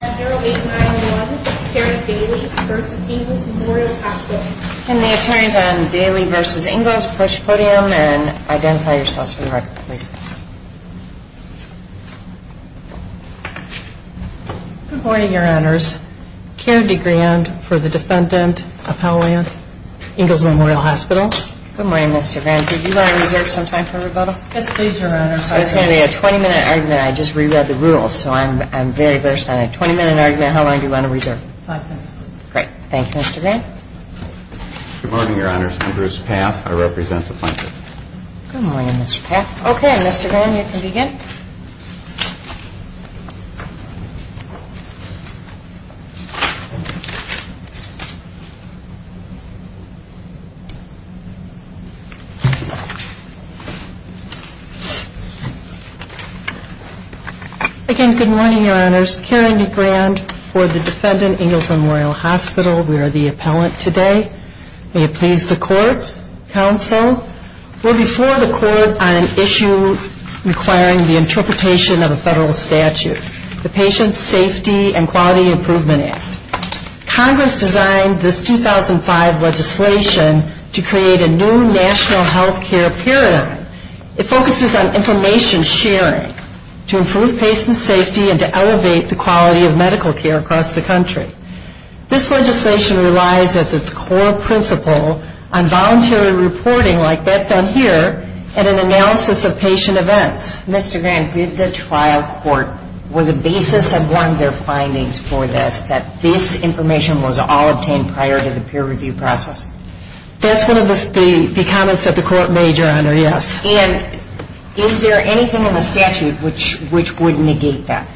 Can the attorneys on Daley v. Ingalls approach the podium and identify yourselves for the record, please? Good morning, your honors. Karen DeGrande for the defendant of Howland Ingalls Memorial Hospital. Good morning, Ms. DeGrande. Did you want to reserve some time for rebuttal? Yes, please, your honors. It's going to be a 20-minute argument. I just reread the rules, so I'm very versed on a 20-minute argument. How long do you want to reserve? Five minutes, please. Great. Thank you, Ms. DeGrande. Good morning, your honors. I'm Bruce Paff. I represent the plaintiff. Good morning, Mr. Paff. Okay, Ms. DeGrande, you can begin. Again, good morning, your honors. Karen DeGrande for the defendant, Ingalls Memorial Hospital. We are the appellant today. May it please the court, counsel. We're before the court on an issue requiring the interpretation of a federal statute, the Patient Safety and Quality Improvement Act. Congress designed this 2005 legislation to create a new national health care paradigm. It focuses on information sharing to improve patient safety and to elevate the quality of medical care across the country. This legislation relies as its core principle on voluntary reporting like that done here and an analysis of patient events. Mr. DeGrande, did the trial court, was a basis of one of their findings for this, that this information was all obtained prior to the peer review process? That's one of the comments that the court made, your honor, yes. And is there anything in the statute which would negate that?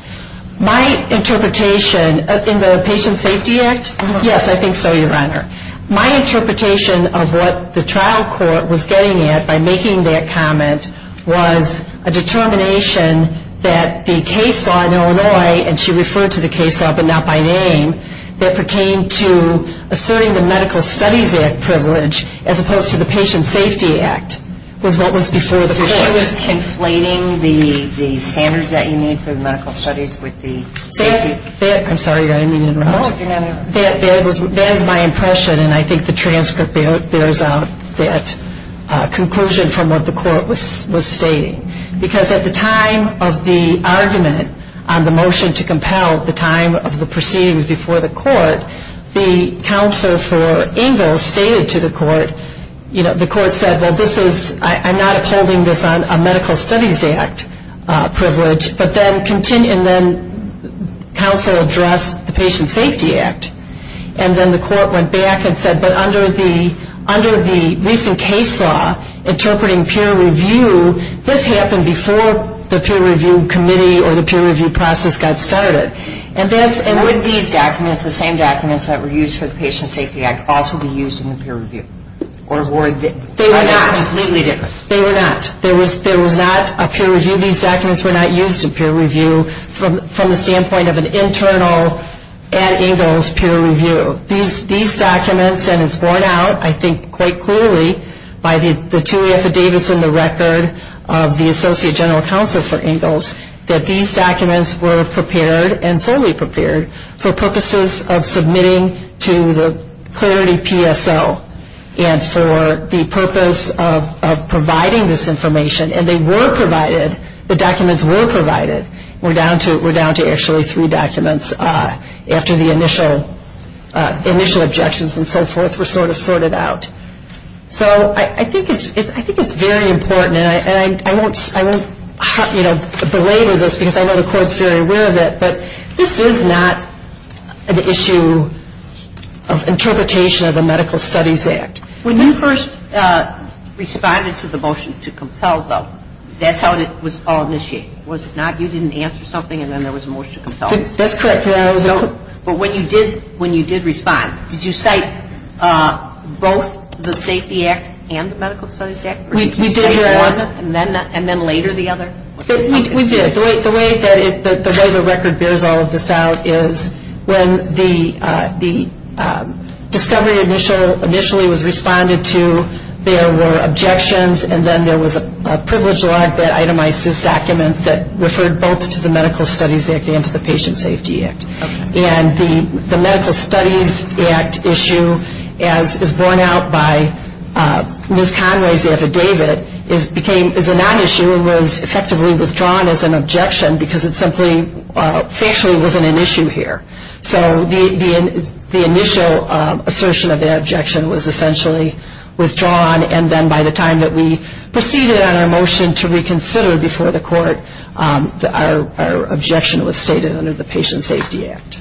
My interpretation in the Patient Safety Act, yes, I think so, your honor. My interpretation of what the trial court was getting at by making that comment was a determination that the case law in Illinois, and she referred to the case law but not by name, that pertained to asserting the Medical Studies Act privilege as opposed to the Patient Safety Act was what was before the court. So it was conflating the standards that you need for the medical studies with the safety? I'm sorry, your honor, I didn't mean to interrupt. No, your honor. That is my impression and I think the transcript bears out that conclusion from what the court was stating. Because at the time of the argument on the motion to compel at the time of the proceedings before the court, the counselor for Ingalls stated to the court, you know, the court said, well, this is, I'm not upholding this on a Medical Studies Act privilege, but then counselor addressed the Patient Safety Act. And then the court went back and said, but under the recent case law interpreting peer review, this happened before the peer review committee or the peer review process got started. And would these documents, the same documents that were used for the Patient Safety Act, also be used in the peer review? They were not. Completely different. They were not. There was not a peer review. These documents were not used in peer review from the standpoint of an internal at Ingalls peer review. These documents, and it's borne out, I think, quite clearly by the two affidavits in the record of the Associate General Counsel for Ingalls, that these documents were prepared and solely prepared for purposes of submitting to the Clarity PSO and for the purpose of providing this information. And they were provided. The documents were provided. We're down to actually three documents after the initial objections and so forth were sort of sorted out. So I think it's very important, and I won't, you know, belabor this, because I know the Court's very aware of it, but this is not an issue of interpretation of the Medical Studies Act. When you first responded to the motion to compel, though, that's how it was all initiated. Was it not you didn't answer something and then there was a motion to compel? That's correct. No. But when you did respond, did you cite both the Safety Act and the Medical Studies Act? Or did you cite one and then later the other? We did. The way the record bears all of this out is when the discovery initially was responded to, there were objections and then there was a privileged log that itemized these documents that referred both to the Medical Studies Act and to the Patient Safety Act. And the Medical Studies Act issue, as is borne out by Ms. Conway's affidavit, became a non-issue and was effectively withdrawn as an objection because it simply factually wasn't an issue here. So the initial assertion of that objection was essentially withdrawn, and then by the time that we proceeded on our motion to reconsider before the Court, our objection was stated under the Patient Safety Act.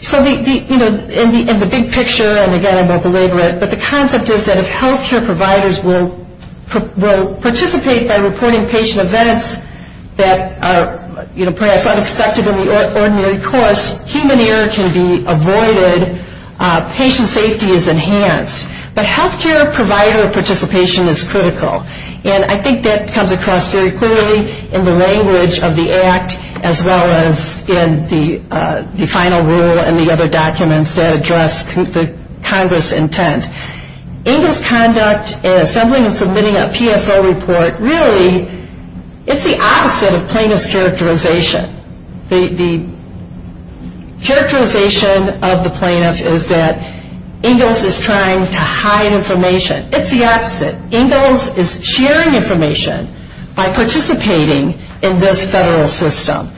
So, you know, in the big picture, and again I won't belabor it, but the concept is that if health care providers will participate by reporting patient events that are perhaps unexpected in the ordinary course, human error can be avoided, patient safety is enhanced. But health care provider participation is critical. And I think that comes across very clearly in the language of the Act as well as in the final rule and the other documents that address the Congress' intent. Ingalls' conduct in assembling and submitting a PSO report, really it's the opposite of plaintiff's characterization. The characterization of the plaintiff is that Ingalls is trying to hide information. It's the opposite. And Ingalls is sharing information by participating in this federal system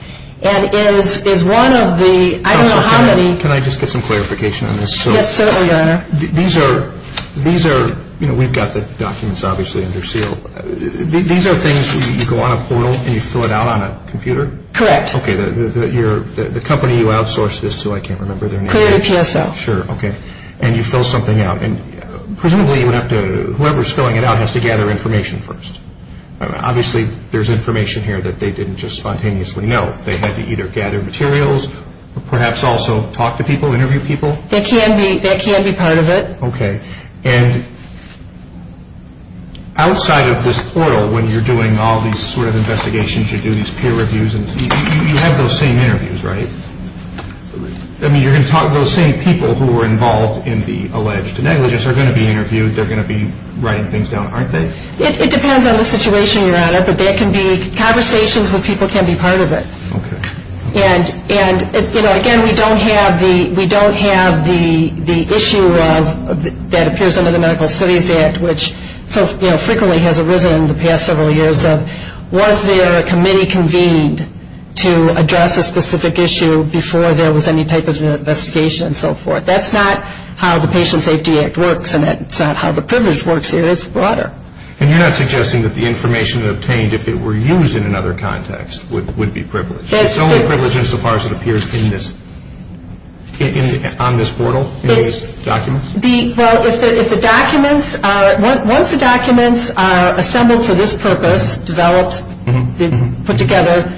and is one of the, I don't know how many. Can I just get some clarification on this? Yes, certainly, Your Honor. These are, you know, we've got the documents obviously under seal. These are things you go on a portal and you fill it out on a computer? Correct. Okay, the company you outsource this to, I can't remember their name. Creative PSO. Sure, okay. And you fill something out. And presumably you would have to, whoever's filling it out has to gather information first. Obviously there's information here that they didn't just spontaneously know. They had to either gather materials or perhaps also talk to people, interview people. That can be part of it. Okay. And outside of this portal when you're doing all these sort of investigations, you do these peer reviews and you have those same interviews, right? I mean, you're going to talk to those same people who were involved in the alleged negligence. They're going to be interviewed. They're going to be writing things down, aren't they? It depends on the situation, Your Honor. But there can be conversations where people can be part of it. Okay. And, you know, again, we don't have the issue that appears under the Medical Studies Act, which so frequently has arisen in the past several years of was there a committee convened to address a specific issue before there was any type of investigation and so forth. That's not how the Patient Safety Act works and it's not how the privilege works here. It's broader. And you're not suggesting that the information obtained, if it were used in another context, would be privileged? It's only privileged insofar as it appears on this portal, in these documents? Well, once the documents are assembled for this purpose, developed, put together,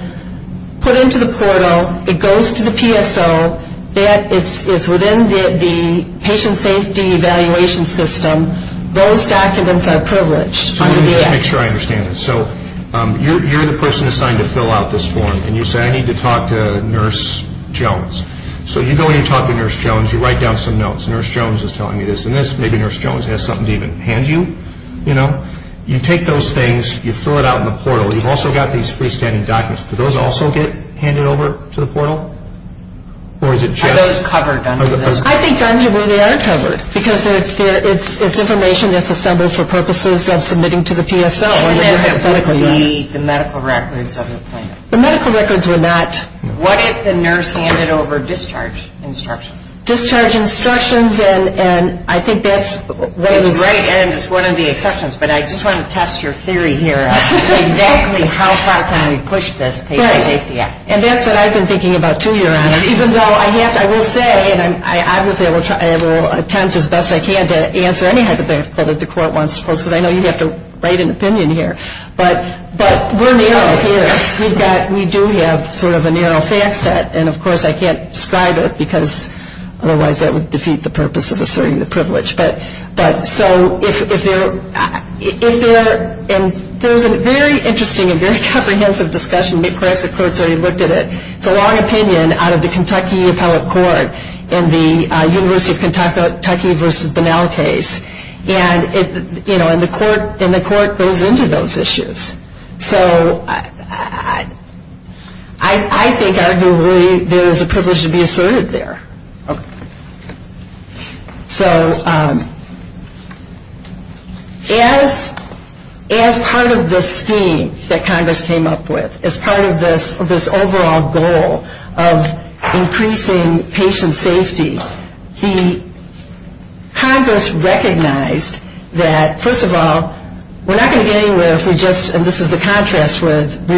put into the portal, it goes to the PSO, it's within the Patient Safety Evaluation System. Those documents are privileged. Let me just make sure I understand this. So you're the person assigned to fill out this form and you say, I need to talk to Nurse Jones. So you go in and talk to Nurse Jones. You write down some notes. Nurse Jones is telling you this and this. Maybe Nurse Jones has something to even hand you. You take those things. You fill it out in the portal. You've also got these freestanding documents. Do those also get handed over to the portal? Are those covered under this? I think they are covered because it's information that's assembled for purposes of submitting to the PSO. The medical records of the appointment. The medical records were not. What if the nurse handed over discharge instructions? Discharge instructions. And I think that's what it is. That's right. And it's one of the exceptions. But I just want to test your theory here of exactly how far can we push this patient safety act. Right. And that's what I've been thinking about too, Your Honor. Even though I have to, I will say, and I will attempt as best I can to answer any hypothetical that the court wants to pose, because I know you'd have to write an opinion here. But we're narrow here. We've got, we do have sort of a narrow fact set. And, of course, I can't describe it, because otherwise that would defeat the purpose of asserting the privilege. But so if there, if there, and there's a very interesting and very comprehensive discussion. I think perhaps the court's already looked at it. It's a long opinion out of the Kentucky Appellate Court in the University of Kentucky v. Bonnell case. And, you know, and the court goes into those issues. So I think arguably there is a privilege to be asserted there. Okay. So as part of the scheme that Congress came up with, as part of this overall goal of increasing patient safety, the Congress recognized that, first of all, we're not going to get anywhere if we just, and this is the contrast with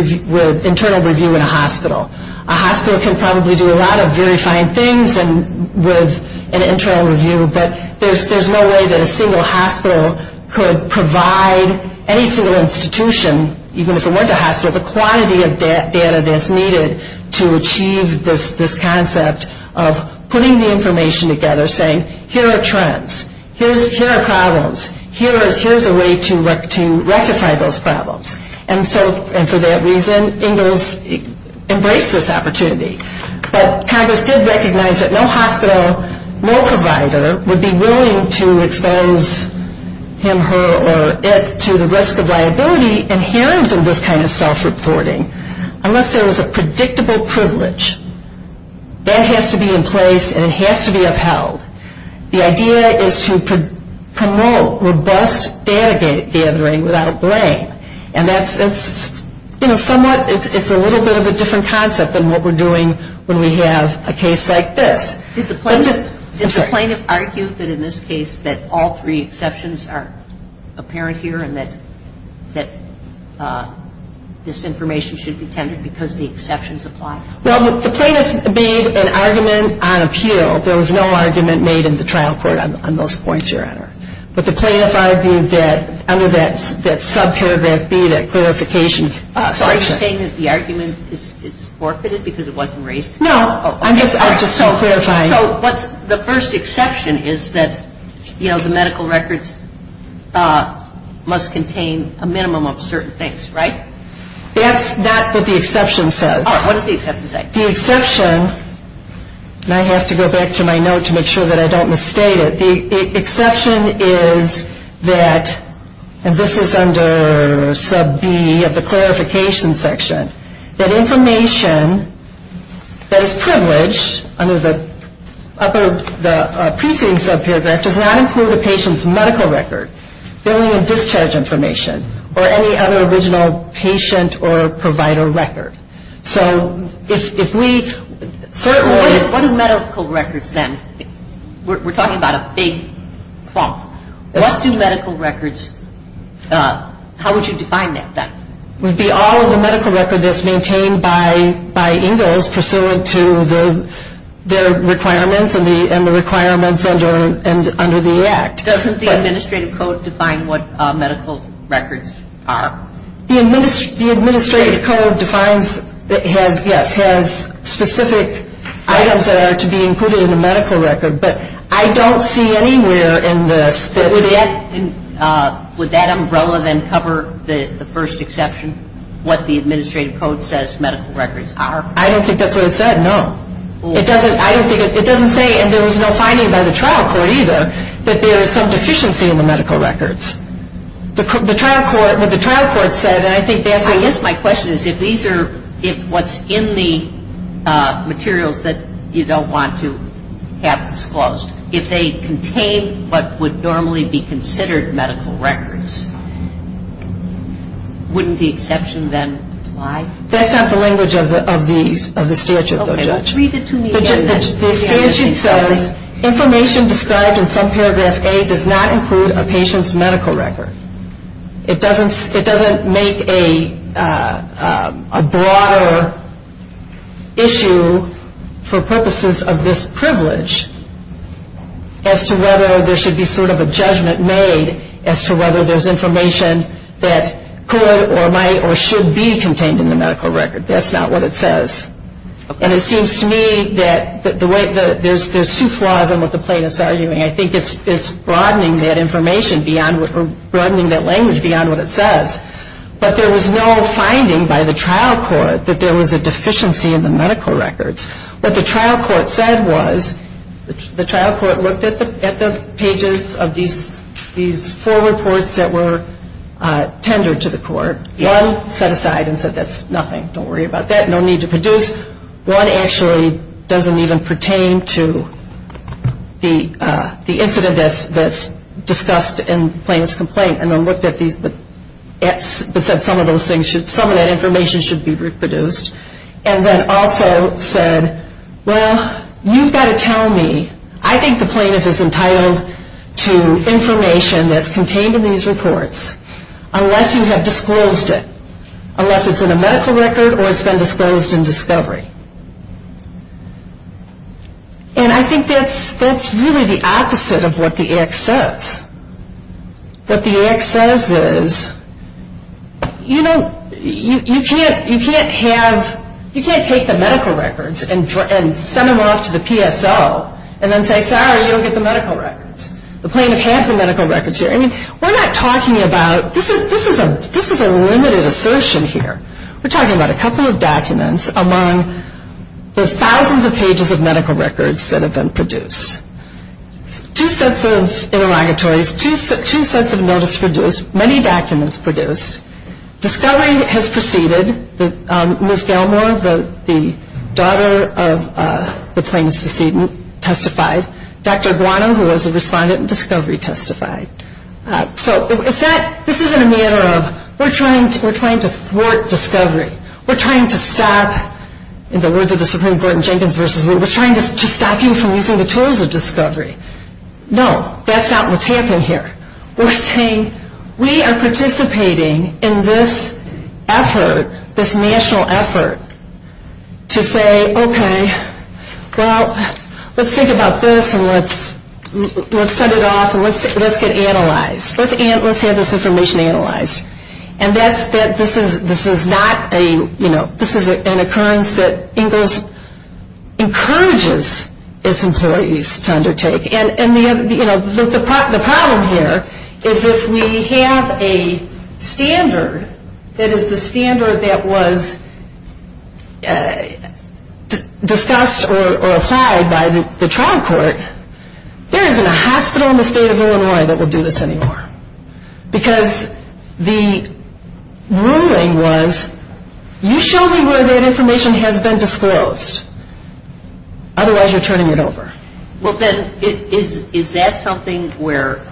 internal review in a hospital. A hospital can probably do a lot of very fine things with an internal review, but there's no way that a single hospital could provide any single institution, even if it weren't a hospital, the quantity of data that's needed to achieve this concept of putting the information together, saying here are trends, here are problems, here's a way to rectify those problems. And so, and for that reason, Ingalls embraced this opportunity. But Congress did recognize that no hospital, no provider would be willing to expose him, her, or it to the risk of liability inherent in this kind of self-reporting unless there was a predictable privilege. That has to be in place and it has to be upheld. The idea is to promote robust data gathering without blame. And that's, you know, somewhat, it's a little bit of a different concept than what we're doing when we have a case like this. Did the plaintiff argue that in this case that all three exceptions are apparent here and that this information should be tended because the exceptions apply? Well, the plaintiff made an argument on appeal. There was no argument made in the trial court on those points, Your Honor. But the plaintiff argued that under that subparagraph B, that clarification section. So are you saying that the argument is forfeited because it wasn't raised? No, I'm just clarifying. So the first exception is that, you know, the medical records must contain a minimum of certain things, right? That's not what the exception says. Your Honor, what does the exception say? The exception, and I have to go back to my note to make sure that I don't misstate it. The exception is that, and this is under sub B of the clarification section, that information that is privileged under the preceding subparagraph does not include a patient's medical record, billing and discharge information, or any other original patient or provider record. So if we certainly What are medical records then? We're talking about a big clump. What do medical records, how would you define that? It would be all of the medical record that's maintained by Ingalls pursuant to their requirements and the requirements under the Act. Doesn't the Administrative Code define what medical records are? The Administrative Code defines, yes, has specific items that are to be included in a medical record. But I don't see anywhere in this that Would that umbrella then cover the first exception, what the Administrative Code says medical records are? I don't think that's what it said, no. It doesn't, I don't think, it doesn't say, and there was no finding by the trial court either, that there is some deficiency in the medical records. The trial court, what the trial court said, and I think that's I guess my question is if these are, if what's in the materials that you don't want to have disclosed, if they contain what would normally be considered medical records, wouldn't the exception then apply? That's not the language of the statute, Judge. Read it to me again. The statute says information described in some paragraph A does not include a patient's medical record. It doesn't make a broader issue for purposes of this privilege as to whether there should be sort of a judgment made as to whether there's information that could or might or should be contained in the medical record. That's not what it says. And it seems to me that the way, there's two flaws in what the plaintiff's arguing. I think it's broadening that information beyond, broadening that language beyond what it says. But there was no finding by the trial court that there was a deficiency in the medical records. What the trial court said was, the trial court looked at the pages of these four reports that were tendered to the court. One set aside and said that's nothing, don't worry about that. No need to produce. One actually doesn't even pertain to the incident that's discussed in the plaintiff's complaint. And then looked at these, but said some of that information should be reproduced. And then also said, well, you've got to tell me. I think the plaintiff is entitled to information that's contained in these reports unless you have disclosed it. Unless it's in a medical record or it's been disclosed in discovery. And I think that's really the opposite of what the act says. What the act says is, you know, you can't have, you can't take the medical records and send them off to the PSO and then say, sorry, you don't get the medical records. The plaintiff has the medical records here. I mean, we're not talking about, this is a limited assertion here. We're talking about a couple of documents among the thousands of pages of medical records that have been produced. Two sets of interrogatories, two sets of notice produced, many documents produced. Discovery has proceeded. Ms. Gilmore, the daughter of the plaintiff's decedent, testified. Dr. Guano, who was the respondent in discovery, testified. So this isn't a matter of, we're trying to thwart discovery. We're trying to stop, in the words of the Supreme Court in Jenkins v. Wu, we're trying to stop you from using the tools of discovery. No, that's not what's happening here. We're saying, we are participating in this effort, this national effort, to say, okay, well, let's think about this and let's send it off and let's get analyzed. Let's have this information analyzed. And that's, this is not a, you know, this is an occurrence that Engels encourages its employees to undertake. And, you know, the problem here is if we have a standard that is the standard that was discussed or applied by the trial court, there isn't a hospital in the state of Illinois that would do this anymore. Because the ruling was, you show me where that information has been disclosed. Otherwise, you're turning it over. Well, then, is that something where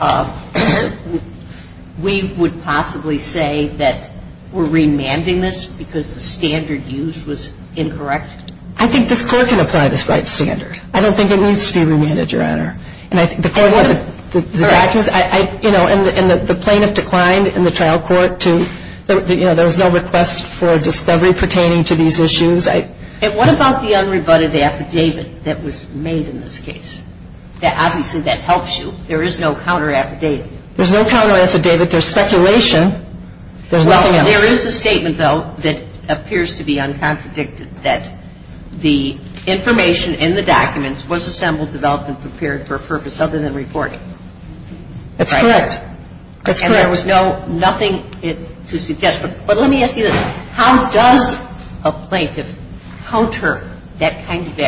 we would possibly say that we're remanding this because the standard used was incorrect? I think this Court can apply this right standard. I don't think it needs to be remanded, Your Honor. And I think the Court was, you know, and the plaintiff declined in the trial court to, you know, there was no request for discovery pertaining to these issues. I don't think it's necessary to say that the standard was used. And what about the unrebutted affidavit that was made in this case? Obviously, that helps you. There is no counter affidavit. There's no counter affidavit. There's speculation. There's nothing else. Well, there is a statement, though, that appears to be uncontradicted, that the information in the documents was assembled, developed, and prepared for a purpose other than reporting. That's correct. That's correct. And there was no, nothing to suggest. But let me ask you this. How does a plaintiff counter that kind of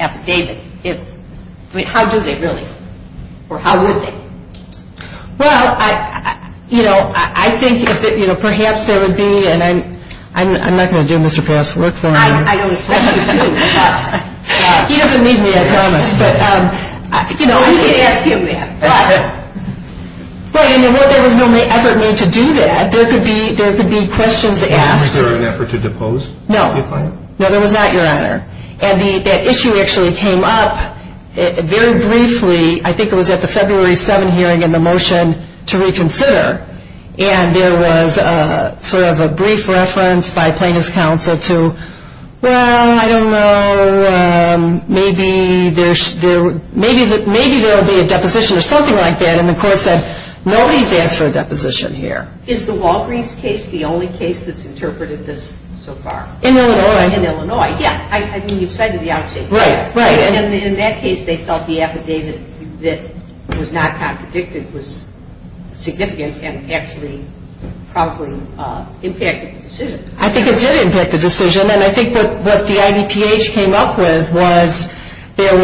affidavit? I mean, how do they really? Or how would they? Well, you know, I think if it, you know, perhaps there would be, and I'm not going to do Mr. Payoff's work for me. I don't expect you to. He doesn't need me, I promise. But, you know. You can ask him that. Well, and there was no effort made to do that. There could be questions asked. Was there an effort to depose the plaintiff? No. No, there was not, Your Honor. And that issue actually came up very briefly. I think it was at the February 7 hearing in the motion to reconsider. And there was sort of a brief reference by plaintiff's counsel to, well, I don't know. Maybe there's, maybe there will be a deposition or something like that. And the court said, nobody's asked for a deposition here. Is the Walgreens case the only case that's interpreted this so far? In Illinois. In Illinois. Yeah. I mean, you cited the outage. Right. Right. In that case, they felt the affidavit that was not contradicted was significant and actually probably impacted the decision. I think it did impact the decision. And I think what the IDPH came up with was there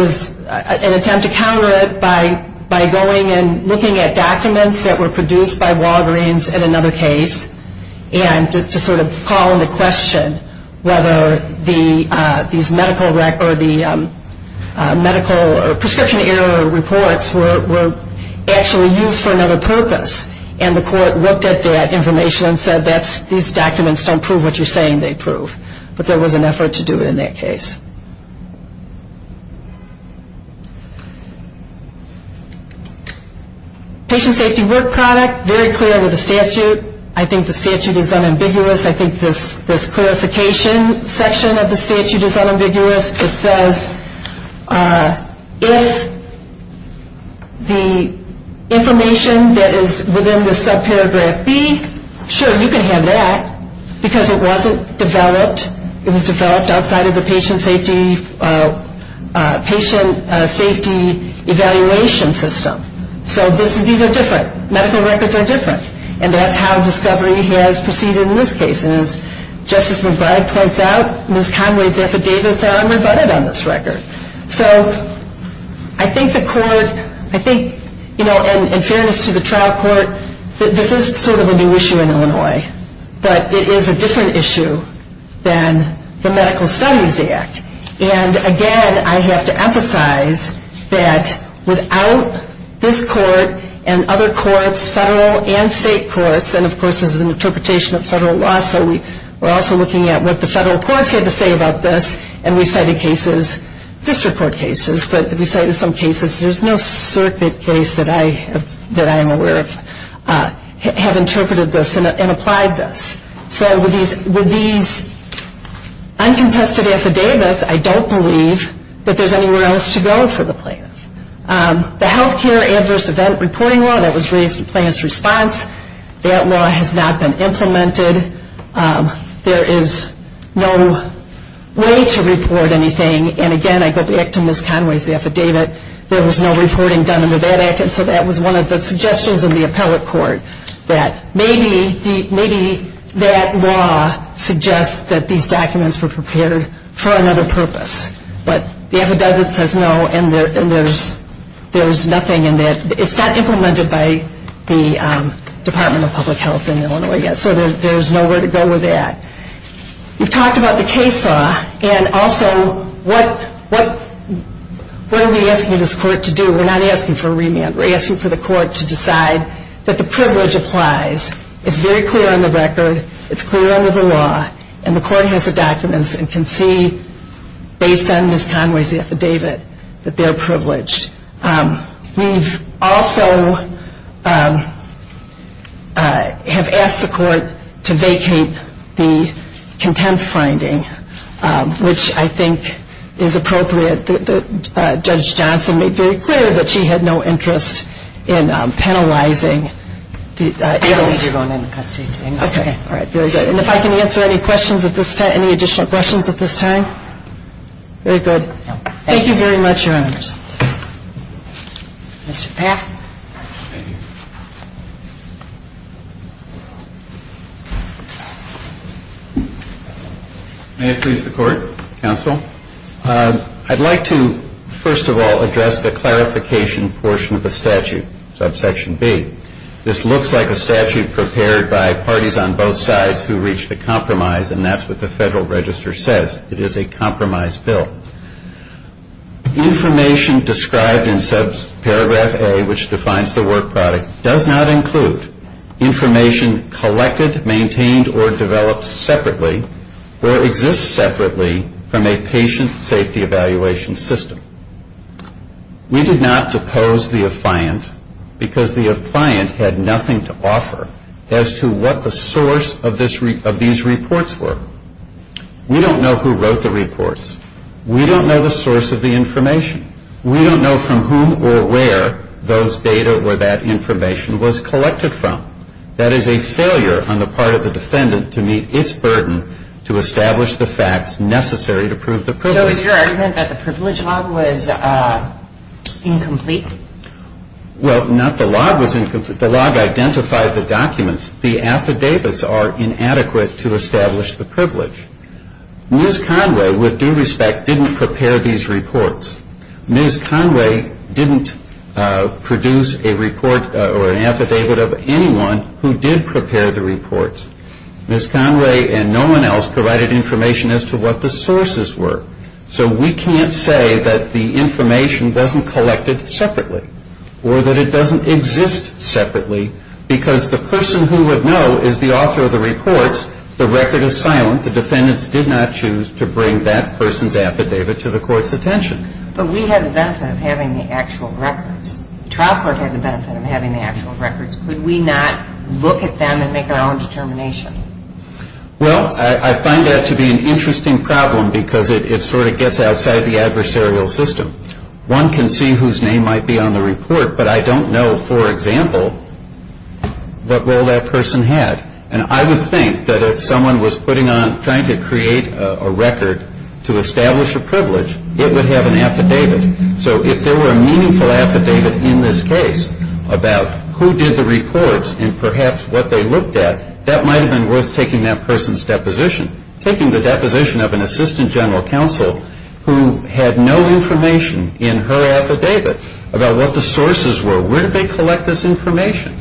was an attempt to counter it by going and looking at documents that were produced by Walgreens in another case and to sort of call into question whether these medical records, the medical prescription error reports were actually used for another purpose. And the court looked at that information and said, these documents don't prove what you're saying they prove. But there was an effort to do it in that case. Patient safety work product, very clear with the statute. I think the statute is unambiguous. I think this clarification section of the statute is unambiguous. It says if the information that is within the subparagraph B, sure, you can have that, because it wasn't developed, it was developed outside of the patient safety evaluation system. So these are different. Medical records are different. And that's how discovery has proceeded in this case. And as Justice McBride points out, Ms. Conway's affidavits are unrebutted on this record. So I think the court, I think, you know, in fairness to the trial court, this is sort of a new issue in Illinois. But it is a different issue than the Medical Studies Act. And, again, I have to emphasize that without this court and other courts, federal and state courts, and, of course, this is an interpretation of federal law, so we're also looking at what the federal courts had to say about this, and we cited cases, district court cases, but we cited some cases. There's no circuit case that I am aware of have interpreted this and applied this. So with these uncontested affidavits, I don't believe that there's anywhere else to go for the plaintiff. The health care adverse event reporting law that was raised in plaintiff's response, that law has not been implemented. There is no way to report anything. And, again, I go back to Ms. Conway's affidavit. There was no reporting done under that act. And so that was one of the suggestions in the appellate court, that maybe that law suggests that these documents were prepared for another purpose. But the affidavit says no, and there's nothing in that. It's not implemented by the Department of Public Health in Illinois yet, so there's nowhere to go with that. We've talked about the case law, and also what are we asking this court to do? We're not asking for a remand. We're asking for the court to decide that the privilege applies. It's very clear on the record. It's clear under the law. And the court has the documents and can see, based on Ms. Conway's affidavit, that they're privileged. We've also have asked the court to vacate the contempt finding, which I think is appropriate. Judge Johnson made very clear that she had no interest in penalizing. I believe you're going into custody. Okay. All right. Very good. And if I can answer any questions at this time, any additional questions at this time? Very good. Thank you very much, Your Honors. Mr. Paff. May it please the Court, Counsel. I'd like to, first of all, address the clarification portion of the statute, subsection B. This looks like a statute prepared by parties on both sides who reached a compromise, and that's what the Federal Register says. It is a compromise bill. Information described in subparagraph A, which defines the work product, does not include information collected, maintained, or developed separately or exists separately from a patient safety evaluation system. We did not depose the affiant because the affiant had nothing to offer as to what the source of these reports were. We don't know who wrote the reports. We don't know the source of the information. We don't know from whom or where those data or that information was collected from. That is a failure on the part of the defendant to meet its burden to establish the facts necessary to prove the privilege. So is your argument that the privilege log was incomplete? Well, not the log was incomplete. The log identified the documents. The affidavits are inadequate to establish the privilege. Ms. Conway, with due respect, didn't prepare these reports. Ms. Conway didn't produce a report or an affidavit of anyone who did prepare the reports. Ms. Conway and no one else provided information as to what the sources were. So we can't say that the information wasn't collected separately or that it doesn't exist separately because the person who would know is the author of the reports. The record is silent. The defendants did not choose to bring that person's affidavit to the court's attention. But we had the benefit of having the actual records. The trial court had the benefit of having the actual records. Could we not look at them and make our own determination? Well, I find that to be an interesting problem because it sort of gets outside the adversarial system. One can see whose name might be on the report, but I don't know, for example, what role that person had. And I would think that if someone was trying to create a record to establish a privilege, it would have an affidavit. So if there were a meaningful affidavit in this case about who did the reports and perhaps what they looked at, that might have been worth taking that person's deposition, taking the deposition of an assistant general counsel who had no information in her affidavit about what the sources were. Where did they collect this information?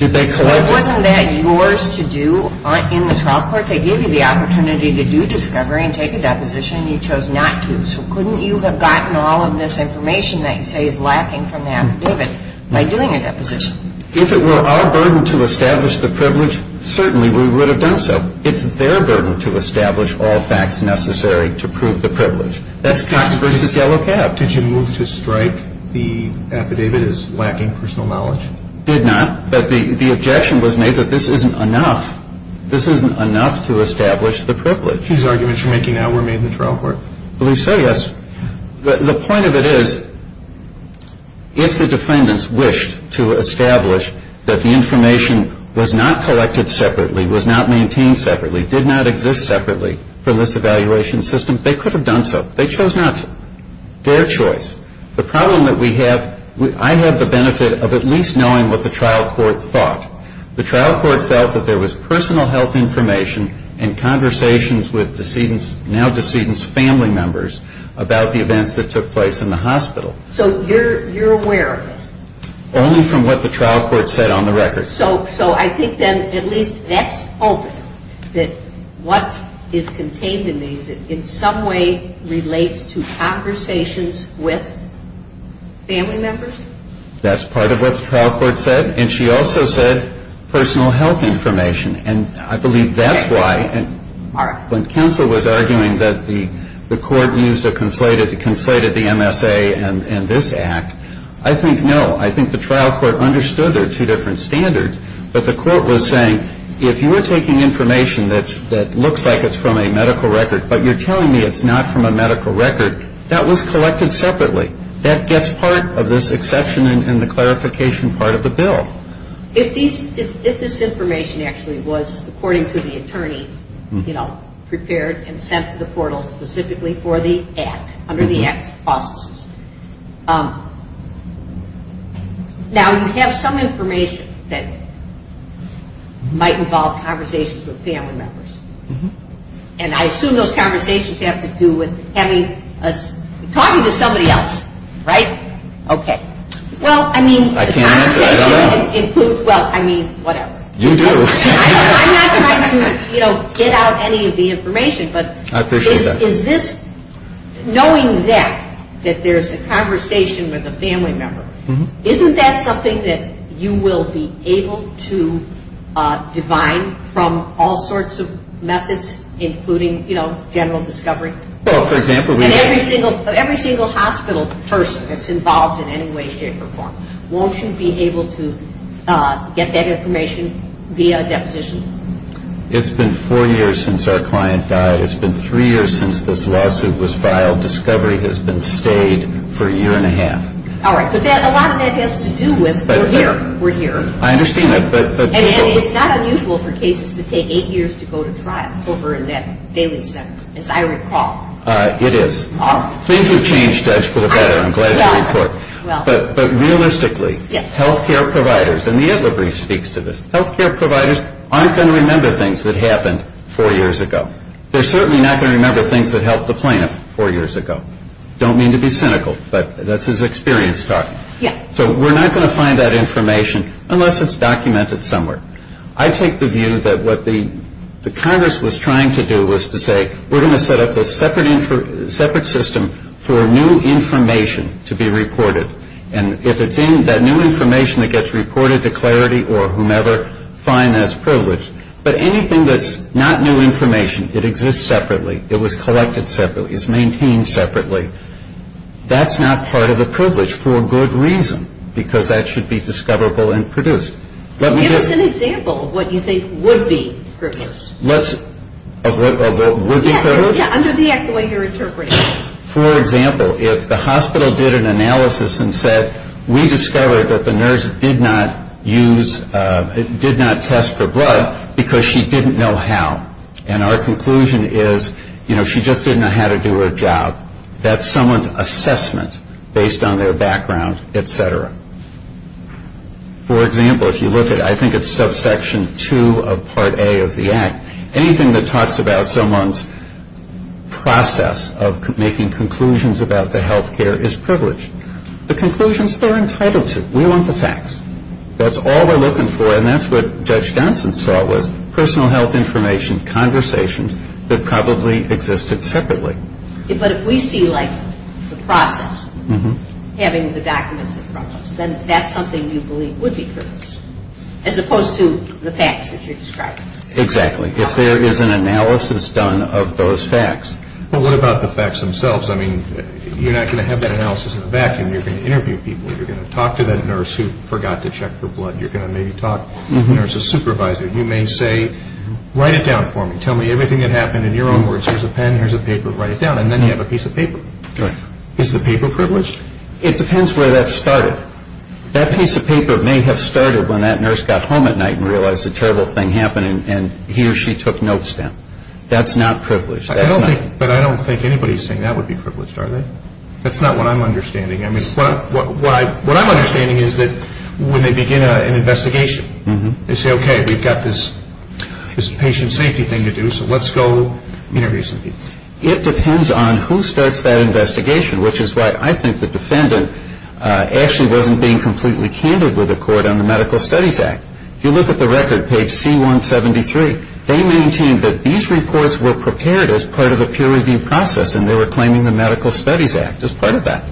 Wasn't that yours to do in the trial court? They gave you the opportunity to do discovery and take a deposition, and you chose not to. So couldn't you have gotten all of this information that you say is lacking from the affidavit by doing a deposition? If it were our burden to establish the privilege, certainly we would have done so. It's their burden to establish all facts necessary to prove the privilege. That's Cox v. Yellow Cab. Did you move to strike the affidavit as lacking personal knowledge? Did not. But the objection was made that this isn't enough. This isn't enough to establish the privilege. These arguments you're making now were made in the trial court. Well, you say yes. The point of it is if the defendants wished to establish that the information was not collected separately, was not maintained separately, did not exist separately from this evaluation system, they could have done so. They chose not to. Their choice. The problem that we have, I have the benefit of at least knowing what the trial court thought. The trial court felt that there was personal health information and conversations with now-decedent's family members about the events that took place in the hospital. So you're aware of it? Only from what the trial court said on the record. So I think then at least that's open, that what is contained in these in some way relates to conversations with family members? That's part of what the trial court said. And she also said personal health information. And I believe that's why when counsel was arguing that the court used a conflated MSA in this act, I think no. I think the trial court understood there are two different standards, but the court was saying if you were taking information that looks like it's from a medical record, but you're telling me it's not from a medical record, that was collected separately. That gets part of this exception in the clarification part of the bill. If this information actually was, according to the attorney, you know, Now you have some information that might involve conversations with family members. And I assume those conversations have to do with talking to somebody else, right? Okay. Well, I mean, the conversation includes, well, I mean, whatever. You do. I'm not trying to, you know, get out any of the information. I appreciate that. But is this, knowing that, that there's a conversation with a family member, isn't that something that you will be able to divine from all sorts of methods, including, you know, general discovery? Well, for example, we And every single hospital person that's involved in any way, shape, or form, won't you be able to get that information via a deposition? It's been four years since our client died. It's been three years since this lawsuit was filed. Discovery has been stayed for a year and a half. All right. But a lot of that has to do with we're here. We're here. I understand that, but And it's not unusual for cases to take eight years to go to trial over in that daily cycle, as I recall. It is. All right. Things have changed, Judge, for the better. I'm glad to report. Well. But realistically, health care providers, and the Itler brief speaks to this, health care providers aren't going to remember things that happened four years ago. They're certainly not going to remember things that helped the plaintiff four years ago. I don't mean to be cynical, but that's his experience talking. Yeah. So we're not going to find that information unless it's documented somewhere. I take the view that what the Congress was trying to do was to say, we're going to set up this separate system for new information to be reported. And if it's in that new information that gets reported to Clarity or whomever, fine, that's privileged. But anything that's not new information, it exists separately, it was collected separately, it's maintained separately, that's not part of the privilege for a good reason, because that should be discoverable and produced. Let me just Give us an example of what you think would be privileged. Let's, of what would be privileged? Yeah. Under the act the way you're interpreting it. For example, if the hospital did an analysis and said, we discovered that the nurse did not use, did not test for blood because she didn't know how. And our conclusion is, you know, she just didn't know how to do her job. That's someone's assessment based on their background, et cetera. For example, if you look at, I think it's subsection 2 of part A of the act, anything that talks about someone's process of making conclusions about the health care is privileged. The conclusions they're entitled to. We want the facts. That's all we're looking for, and that's what Judge Johnson saw, was personal health information conversations that probably existed separately. But if we see, like, the process, having the documents in front of us, then that's something you believe would be privileged, as opposed to the facts that you're describing. Exactly. If there is an analysis done of those facts. Well, what about the facts themselves? I mean, you're not going to have that analysis in a vacuum. You're going to interview people. You're going to talk to that nurse who forgot to check for blood. You're going to maybe talk to the nurse's supervisor. You may say, write it down for me. Tell me everything that happened in your own words. Here's a pen, here's a paper. Write it down. And then you have a piece of paper. Correct. Is the paper privileged? It depends where that started. That piece of paper may have started when that nurse got home at night and realized a terrible thing happened, and he or she took notes down. That's not privileged. But I don't think anybody is saying that would be privileged, are they? That's not what I'm understanding. What I'm understanding is that when they begin an investigation, they say, okay, we've got this patient safety thing to do, so let's go interview some people. It depends on who starts that investigation, which is why I think the defendant actually wasn't being completely candid with the court on the Medical Studies Act. If you look at the record, page C173, they maintain that these reports were prepared as part of the peer review process and they were claiming the Medical Studies Act as part of that.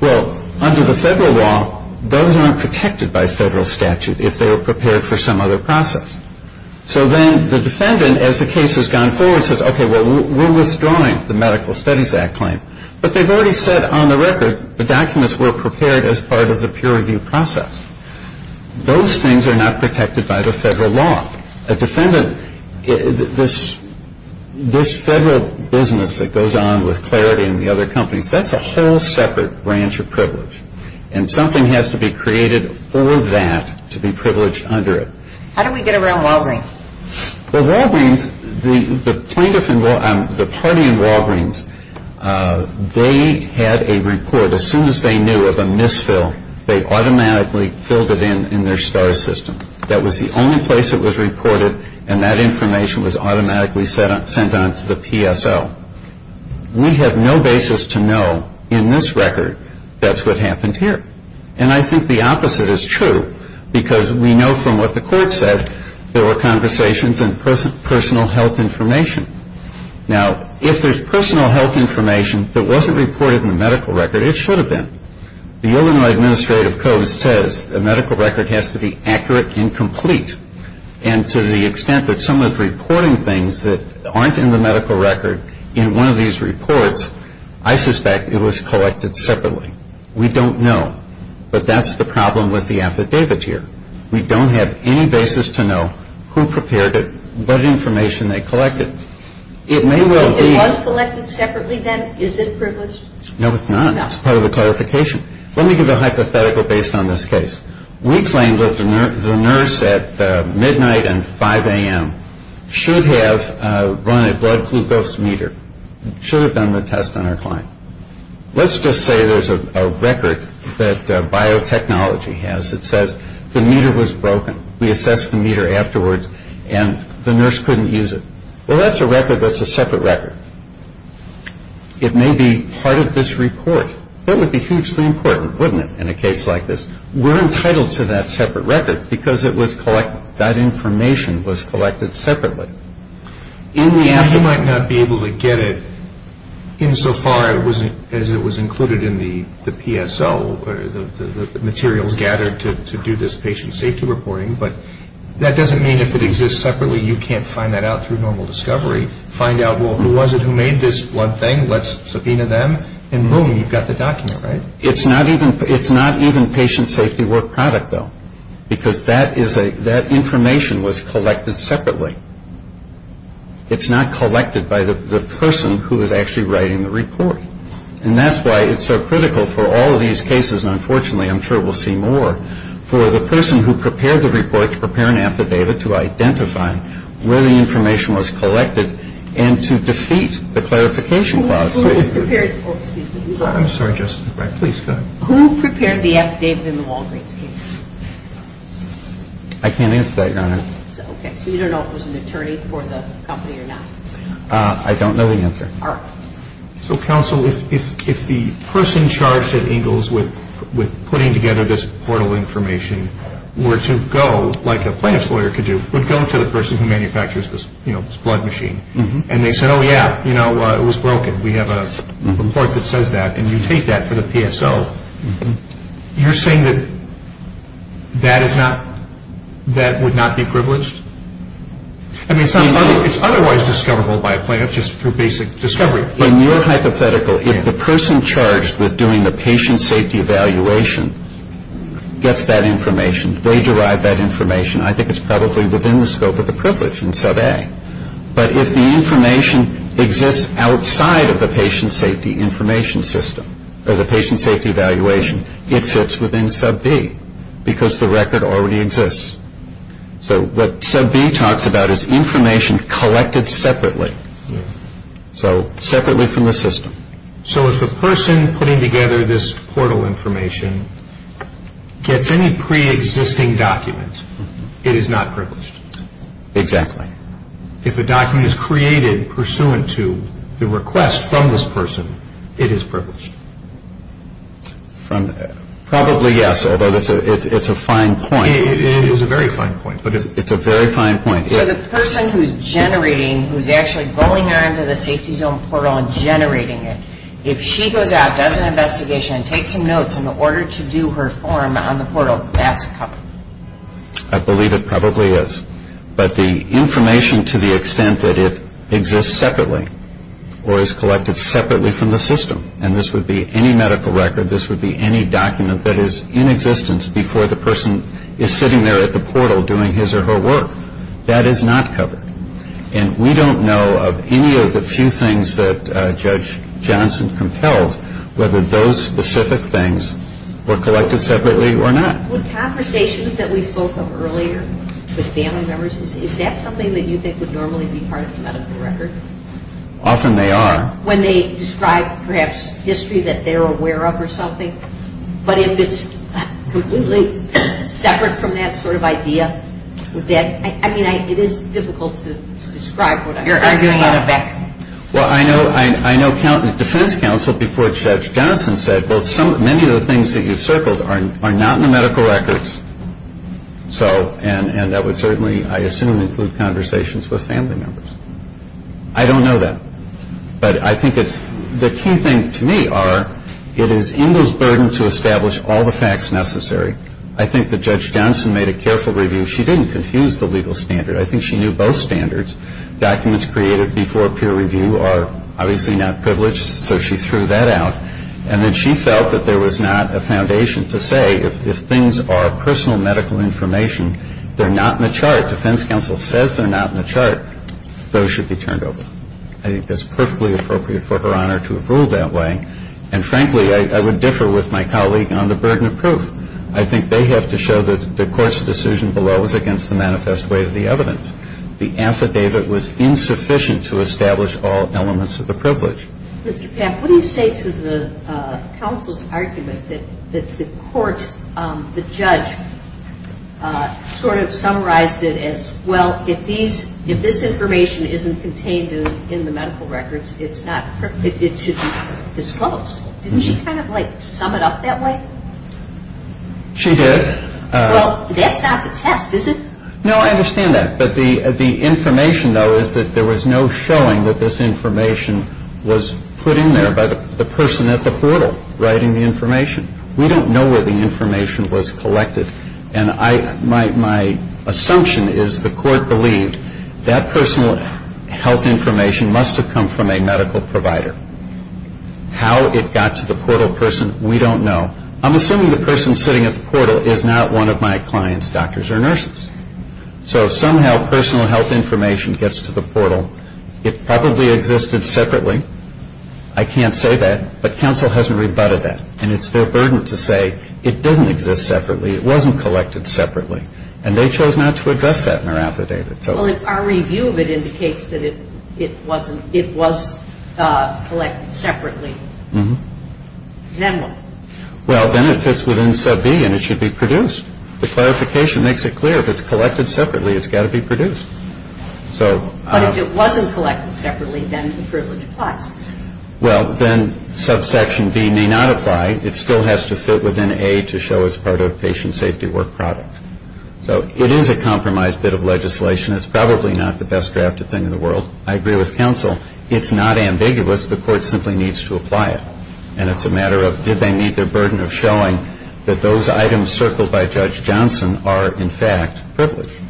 Well, under the federal law, those aren't protected by federal statute if they were prepared for some other process. So then the defendant, as the case has gone forward, says, okay, well, we're withdrawing the Medical Studies Act claim. But they've already said on the record the documents were prepared as part of the peer review process. Those things are not protected by the federal law. A defendant, this federal business that goes on with Clarity and the other companies, that's a whole separate branch of privilege. And something has to be created for that to be privileged under it. How do we get around Walgreens? Well, Walgreens, the plaintiff and the party in Walgreens, they had a report as soon as they knew of a misfill, they automatically filled it in in their STAR system. That was the only place it was reported and that information was automatically sent on to the PSO. We have no basis to know in this record that's what happened here. And I think the opposite is true because we know from what the court said there were conversations and personal health information. Now, if there's personal health information that wasn't reported in the medical record, it should have been. The Illinois Administrative Code says the medical record has to be accurate and complete. And to the extent that someone's reporting things that aren't in the medical record in one of these reports, I suspect it was collected separately. We don't know. But that's the problem with the affidavit here. We don't have any basis to know who prepared it, what information they collected. It may well be ñ It was collected separately then? Is it privileged? No, it's not. That's part of the clarification. Let me give a hypothetical based on this case. We claim that the nurse at midnight and 5 a.m. should have run a blood glucose meter, should have done the test on her client. Let's just say there's a record that biotechnology has that says the meter was broken. We assessed the meter afterwards and the nurse couldn't use it. Well, that's a record that's a separate record. It may be part of this report. That would be hugely important, wouldn't it, in a case like this? We're entitled to that separate record because that information was collected separately. You might not be able to get it insofar as it was included in the PSO, the materials gathered to do this patient safety reporting, but that doesn't mean if it exists separately you can't find that out through normal discovery, find out, well, who was it who made this blood thing, let's subpoena them, and boom, you've got the document, right? It's not even patient safety work product, though, because that information was collected separately. It's not collected by the person who is actually writing the report, and that's why it's so critical for all of these cases, and unfortunately I'm sure we'll see more, for the person who prepared the report to prepare an affidavit to identify where the information was collected and to defeat the clarification clause. Who prepared the affidavit in the Walgreens case? I can't answer that, Your Honor. Okay, so you don't know if it was an attorney for the company or not? I don't know the answer. All right. So, counsel, if the person charged at Ingalls with putting together this portal information were to go, like a plaintiff's lawyer could do, would go to the person who manufactures this blood machine, and they said, oh, yeah, you know, it was broken, we have a report that says that, and you take that for the PSO, you're saying that that would not be privileged? I mean, it's otherwise discoverable by a plaintiff just through basic discovery. In your hypothetical, if the person charged with doing the patient safety evaluation gets that information, they derive that information, I think it's probably within the scope of the privilege in sub A. But if the information exists outside of the patient safety information system or the patient safety evaluation, it fits within sub B because the record already exists. So what sub B talks about is information collected separately, so separately from the system. So if a person putting together this portal information gets any preexisting document, it is not privileged? Exactly. If a document is created pursuant to the request from this person, it is privileged? Probably yes, although it's a fine point. It is a very fine point. It's a very fine point. So the person who's generating, who's actually going on to the safety zone portal and generating it, if she goes out, does an investigation, and takes some notes in order to do her form on the portal, that's covered? I believe it probably is. But the information to the extent that it exists separately or is collected separately from the system, and this would be any medical record, this would be any document that is in existence before the person is sitting there at the portal doing his or her work. That is not covered. And we don't know of any of the few things that Judge Johnson compelled, whether those specific things were collected separately or not. With conversations that we spoke of earlier with family members, is that something that you think would normally be part of a medical record? Often they are. When they describe perhaps history that they're aware of or something? But if it's completely separate from that sort of idea, I mean it is difficult to describe what I'm talking about. You're arguing in a vacuum. Well, I know defense counsel before Judge Johnson said, well, many of the things that you've circled are not in the medical records, and that would certainly, I assume, include conversations with family members. I don't know that. But I think it's the key thing to me are it is Engel's burden to establish all the facts necessary. I think that Judge Johnson made a careful review. She didn't confuse the legal standard. I think she knew both standards. Documents created before peer review are obviously not privileged, so she threw that out. And then she felt that there was not a foundation to say if things are personal medical information, they're not in the chart. Defense counsel says they're not in the chart. Those should be turned over. I think that's perfectly appropriate for Her Honor to have ruled that way. And, frankly, I would differ with my colleague on the burden of proof. I think they have to show that the court's decision below was against the manifest way of the evidence. The affidavit was insufficient to establish all elements of the privilege. Mr. Papp, what do you say to the counsel's argument that the court, the judge, sort of summarized it as, well, if this information isn't contained in the medical records, it should be disclosed. Didn't she kind of like sum it up that way? She did. Well, that's not the test, is it? No, I understand that. But the information, though, is that there was no showing that this information was put in there by the person at the portal writing the information. We don't know where the information was collected. And my assumption is the court believed that personal health information must have come from a medical provider. How it got to the portal person, we don't know. I'm assuming the person sitting at the portal is not one of my clients, doctors or nurses. So somehow personal health information gets to the portal. It probably existed separately. I can't say that. But counsel hasn't rebutted that. And it's their burden to say it didn't exist separately, it wasn't collected separately. And they chose not to address that in their affidavit. Well, our review of it indicates that it wasn't, it was collected separately. Mm-hmm. Then what? Well, then it fits within sub B and it should be produced. The clarification makes it clear if it's collected separately, it's got to be produced. But if it wasn't collected separately, then the privilege applies. Well, then subsection B may not apply. It still has to fit within A to show it's part of a patient safety work product. So it is a compromised bit of legislation. It's probably not the best drafted thing in the world. I agree with counsel. It's not ambiguous. The court simply needs to apply it. And it's a matter of did they meet their burden of showing that those items circled by Judge Johnson are, in fact, privileged.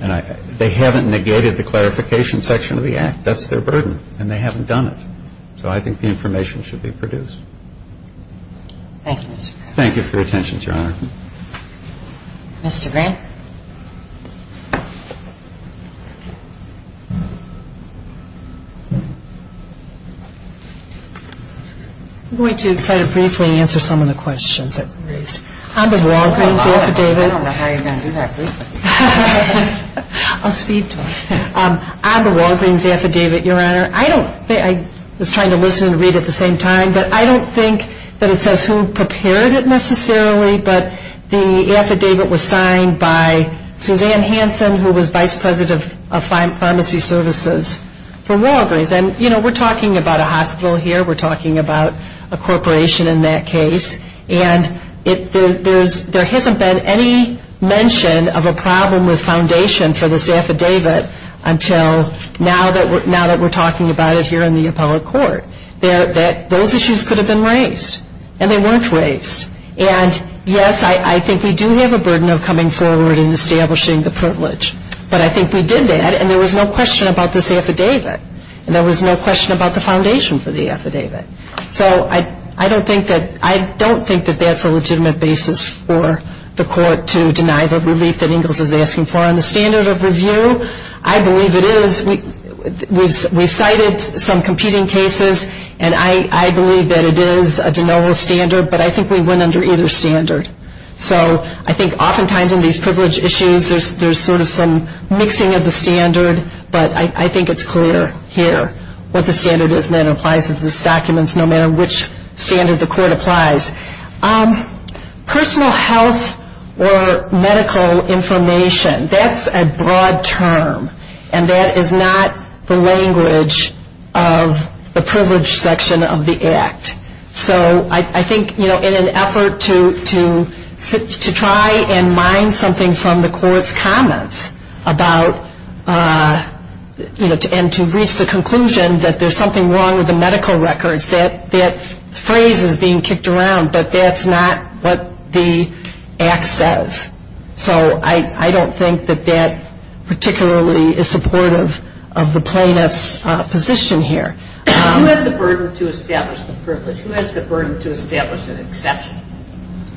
They haven't negated the clarification section of the act. That's their burden. And they haven't done it. So I think the information should be produced. Thank you, Mr. Grant. Thank you for your attention, Your Honor. Mr. Grant? I'm going to try to briefly answer some of the questions that were raised. I'm a Walgreens affidavit. I don't know how you're going to do that briefly. I'll speed talk. I'm a Walgreens affidavit, Your Honor. I was trying to listen and read at the same time. But I don't think that it says who prepared it necessarily. But the affidavit was signed by Suzanne Hansen, who was vice president of pharmacy services for Walgreens. And, you know, we're talking about a hospital here. We're talking about a corporation in that case. And there hasn't been any mention of a problem with foundation for this affidavit until now that we're talking about it here in the appellate court. Those issues could have been raised. And they weren't raised. And, yes, I think we do have a burden of coming forward and establishing the privilege. But I think we did that, and there was no question about this affidavit. And there was no question about the foundation for the affidavit. So I don't think that that's a legitimate basis for the court to deny the relief that Ingalls is asking for. On the standard of review, I believe it is. We've cited some competing cases, and I believe that it is a de novo standard. But I think we went under either standard. So I think oftentimes in these privilege issues, there's sort of some mixing of the standard. But I think it's clear here what the standard is and that it applies to these documents, no matter which standard the court applies. Personal health or medical information, that's a broad term. And that is not the language of the privilege section of the Act. So I think, you know, in an effort to try and mine something from the court's comments about, you know, and to reach the conclusion that there's something wrong with the medical records, that phrase is being kicked around. But that's not what the Act says. So I don't think that that particularly is supportive of the plaintiff's position here. You have the burden to establish the privilege. Who has the burden to establish an exception?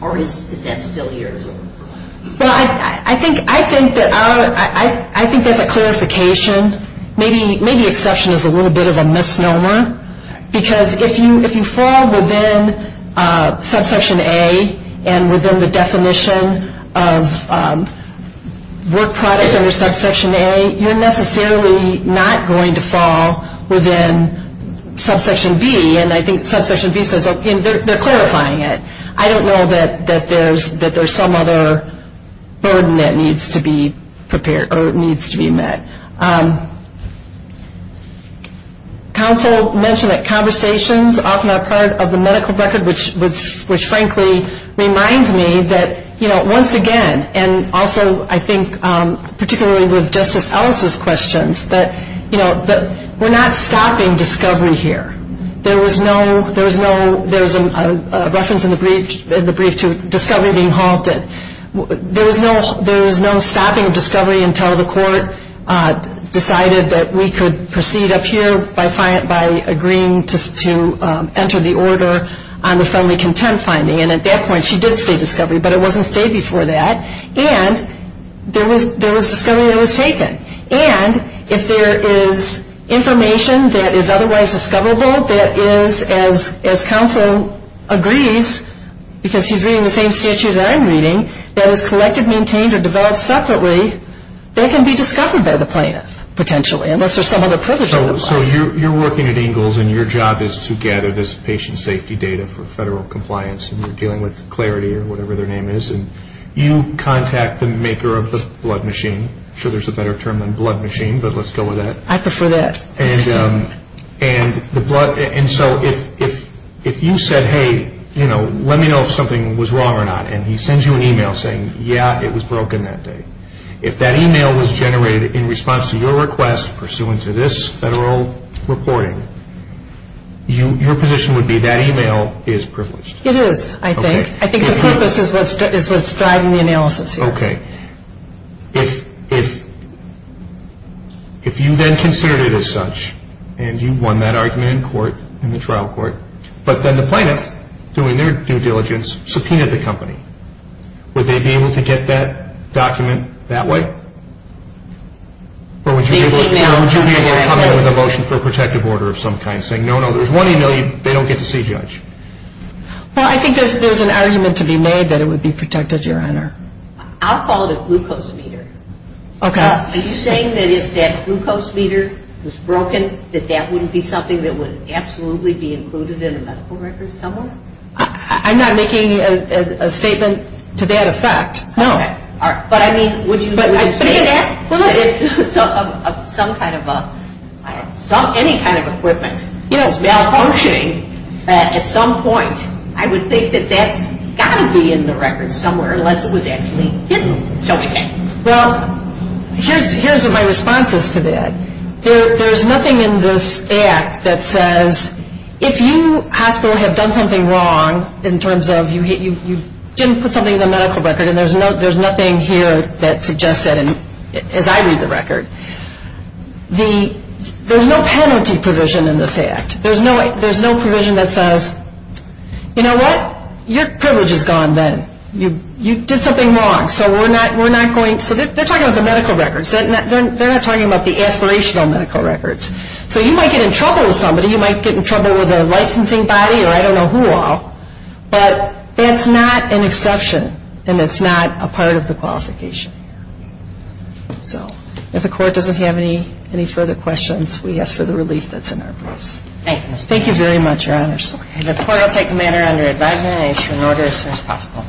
Or is that still yours? Well, I think that's a clarification. Maybe exception is a little bit of a misnomer, because if you fall within subsection A and within the definition of work product under subsection A, you're necessarily not going to fall within subsection B. And I think subsection B says, okay, they're clarifying it. I don't know that there's some other burden that needs to be met. Counsel mentioned that conversations often are part of the medical record, which frankly reminds me that, you know, once again, and also I think particularly with Justice Ellis' questions, that, you know, we're not stopping discovery here. There was no reference in the brief to discovery being halted. There was no stopping of discovery until the court decided that we could proceed up here by agreeing to enter the order on the friendly content finding. And at that point she did state discovery, but it wasn't stated before that. And there was discovery that was taken. And if there is information that is otherwise discoverable, that is, as counsel agrees, because he's reading the same statute that I'm reading, that is collected, maintained, or developed separately, that can be discovered by the plaintiff, potentially, unless there's some other privilege that applies. So you're working at Ingalls, and your job is to gather this patient safety data for federal compliance, and you're dealing with Clarity or whatever their name is, and you contact the maker of the blood machine. I'm sure there's a better term than blood machine, but let's go with that. I prefer that. And so if you said, hey, you know, let me know if something was wrong or not, and he sends you an email saying, yeah, it was broken that day, if that email was generated in response to your request pursuant to this federal reporting, your position would be that email is privileged. It is, I think. I think the purpose is what's driving the analysis here. Okay. If you then considered it as such, and you won that argument in court, in the trial court, but then the plaintiff, doing their due diligence, subpoenaed the company, would they be able to get that document that way? Or would you be able to come in with a motion for a protective order of some kind, saying, no, no, there's one email, they don't get to see, Judge? Well, I think there's an argument to be made that it would be protected, Your Honor. I'll call it a glucose meter. Okay. Are you saying that if that glucose meter was broken, that that wouldn't be something that would absolutely be included in a medical record somewhere? I'm not making a statement to that effect, no. Okay. But I mean, would you say that if some kind of a, any kind of equipment is malfunctioning, at some point, I would think that that's got to be in the record somewhere, unless it was actually hidden, shall we say. Well, here's what my response is to that. There's nothing in this act that says, if you, hospital, have done something wrong, in terms of you didn't put something in the medical record, and there's nothing here that suggests that, as I read the record. There's no penalty provision in this act. There's no provision that says, you know what, your privilege is gone then. You did something wrong, so we're not going, so they're talking about the medical records. They're not talking about the aspirational medical records. So you might get in trouble with somebody. You might get in trouble with a licensing body, or I don't know who all. But that's not an exception, and it's not a part of the qualification. So if the court doesn't have any further questions, we ask for the relief that's in our briefs. Thank you. Thank you very much, Your Honors. The court will take the matter under advisement and issue an order as soon as possible.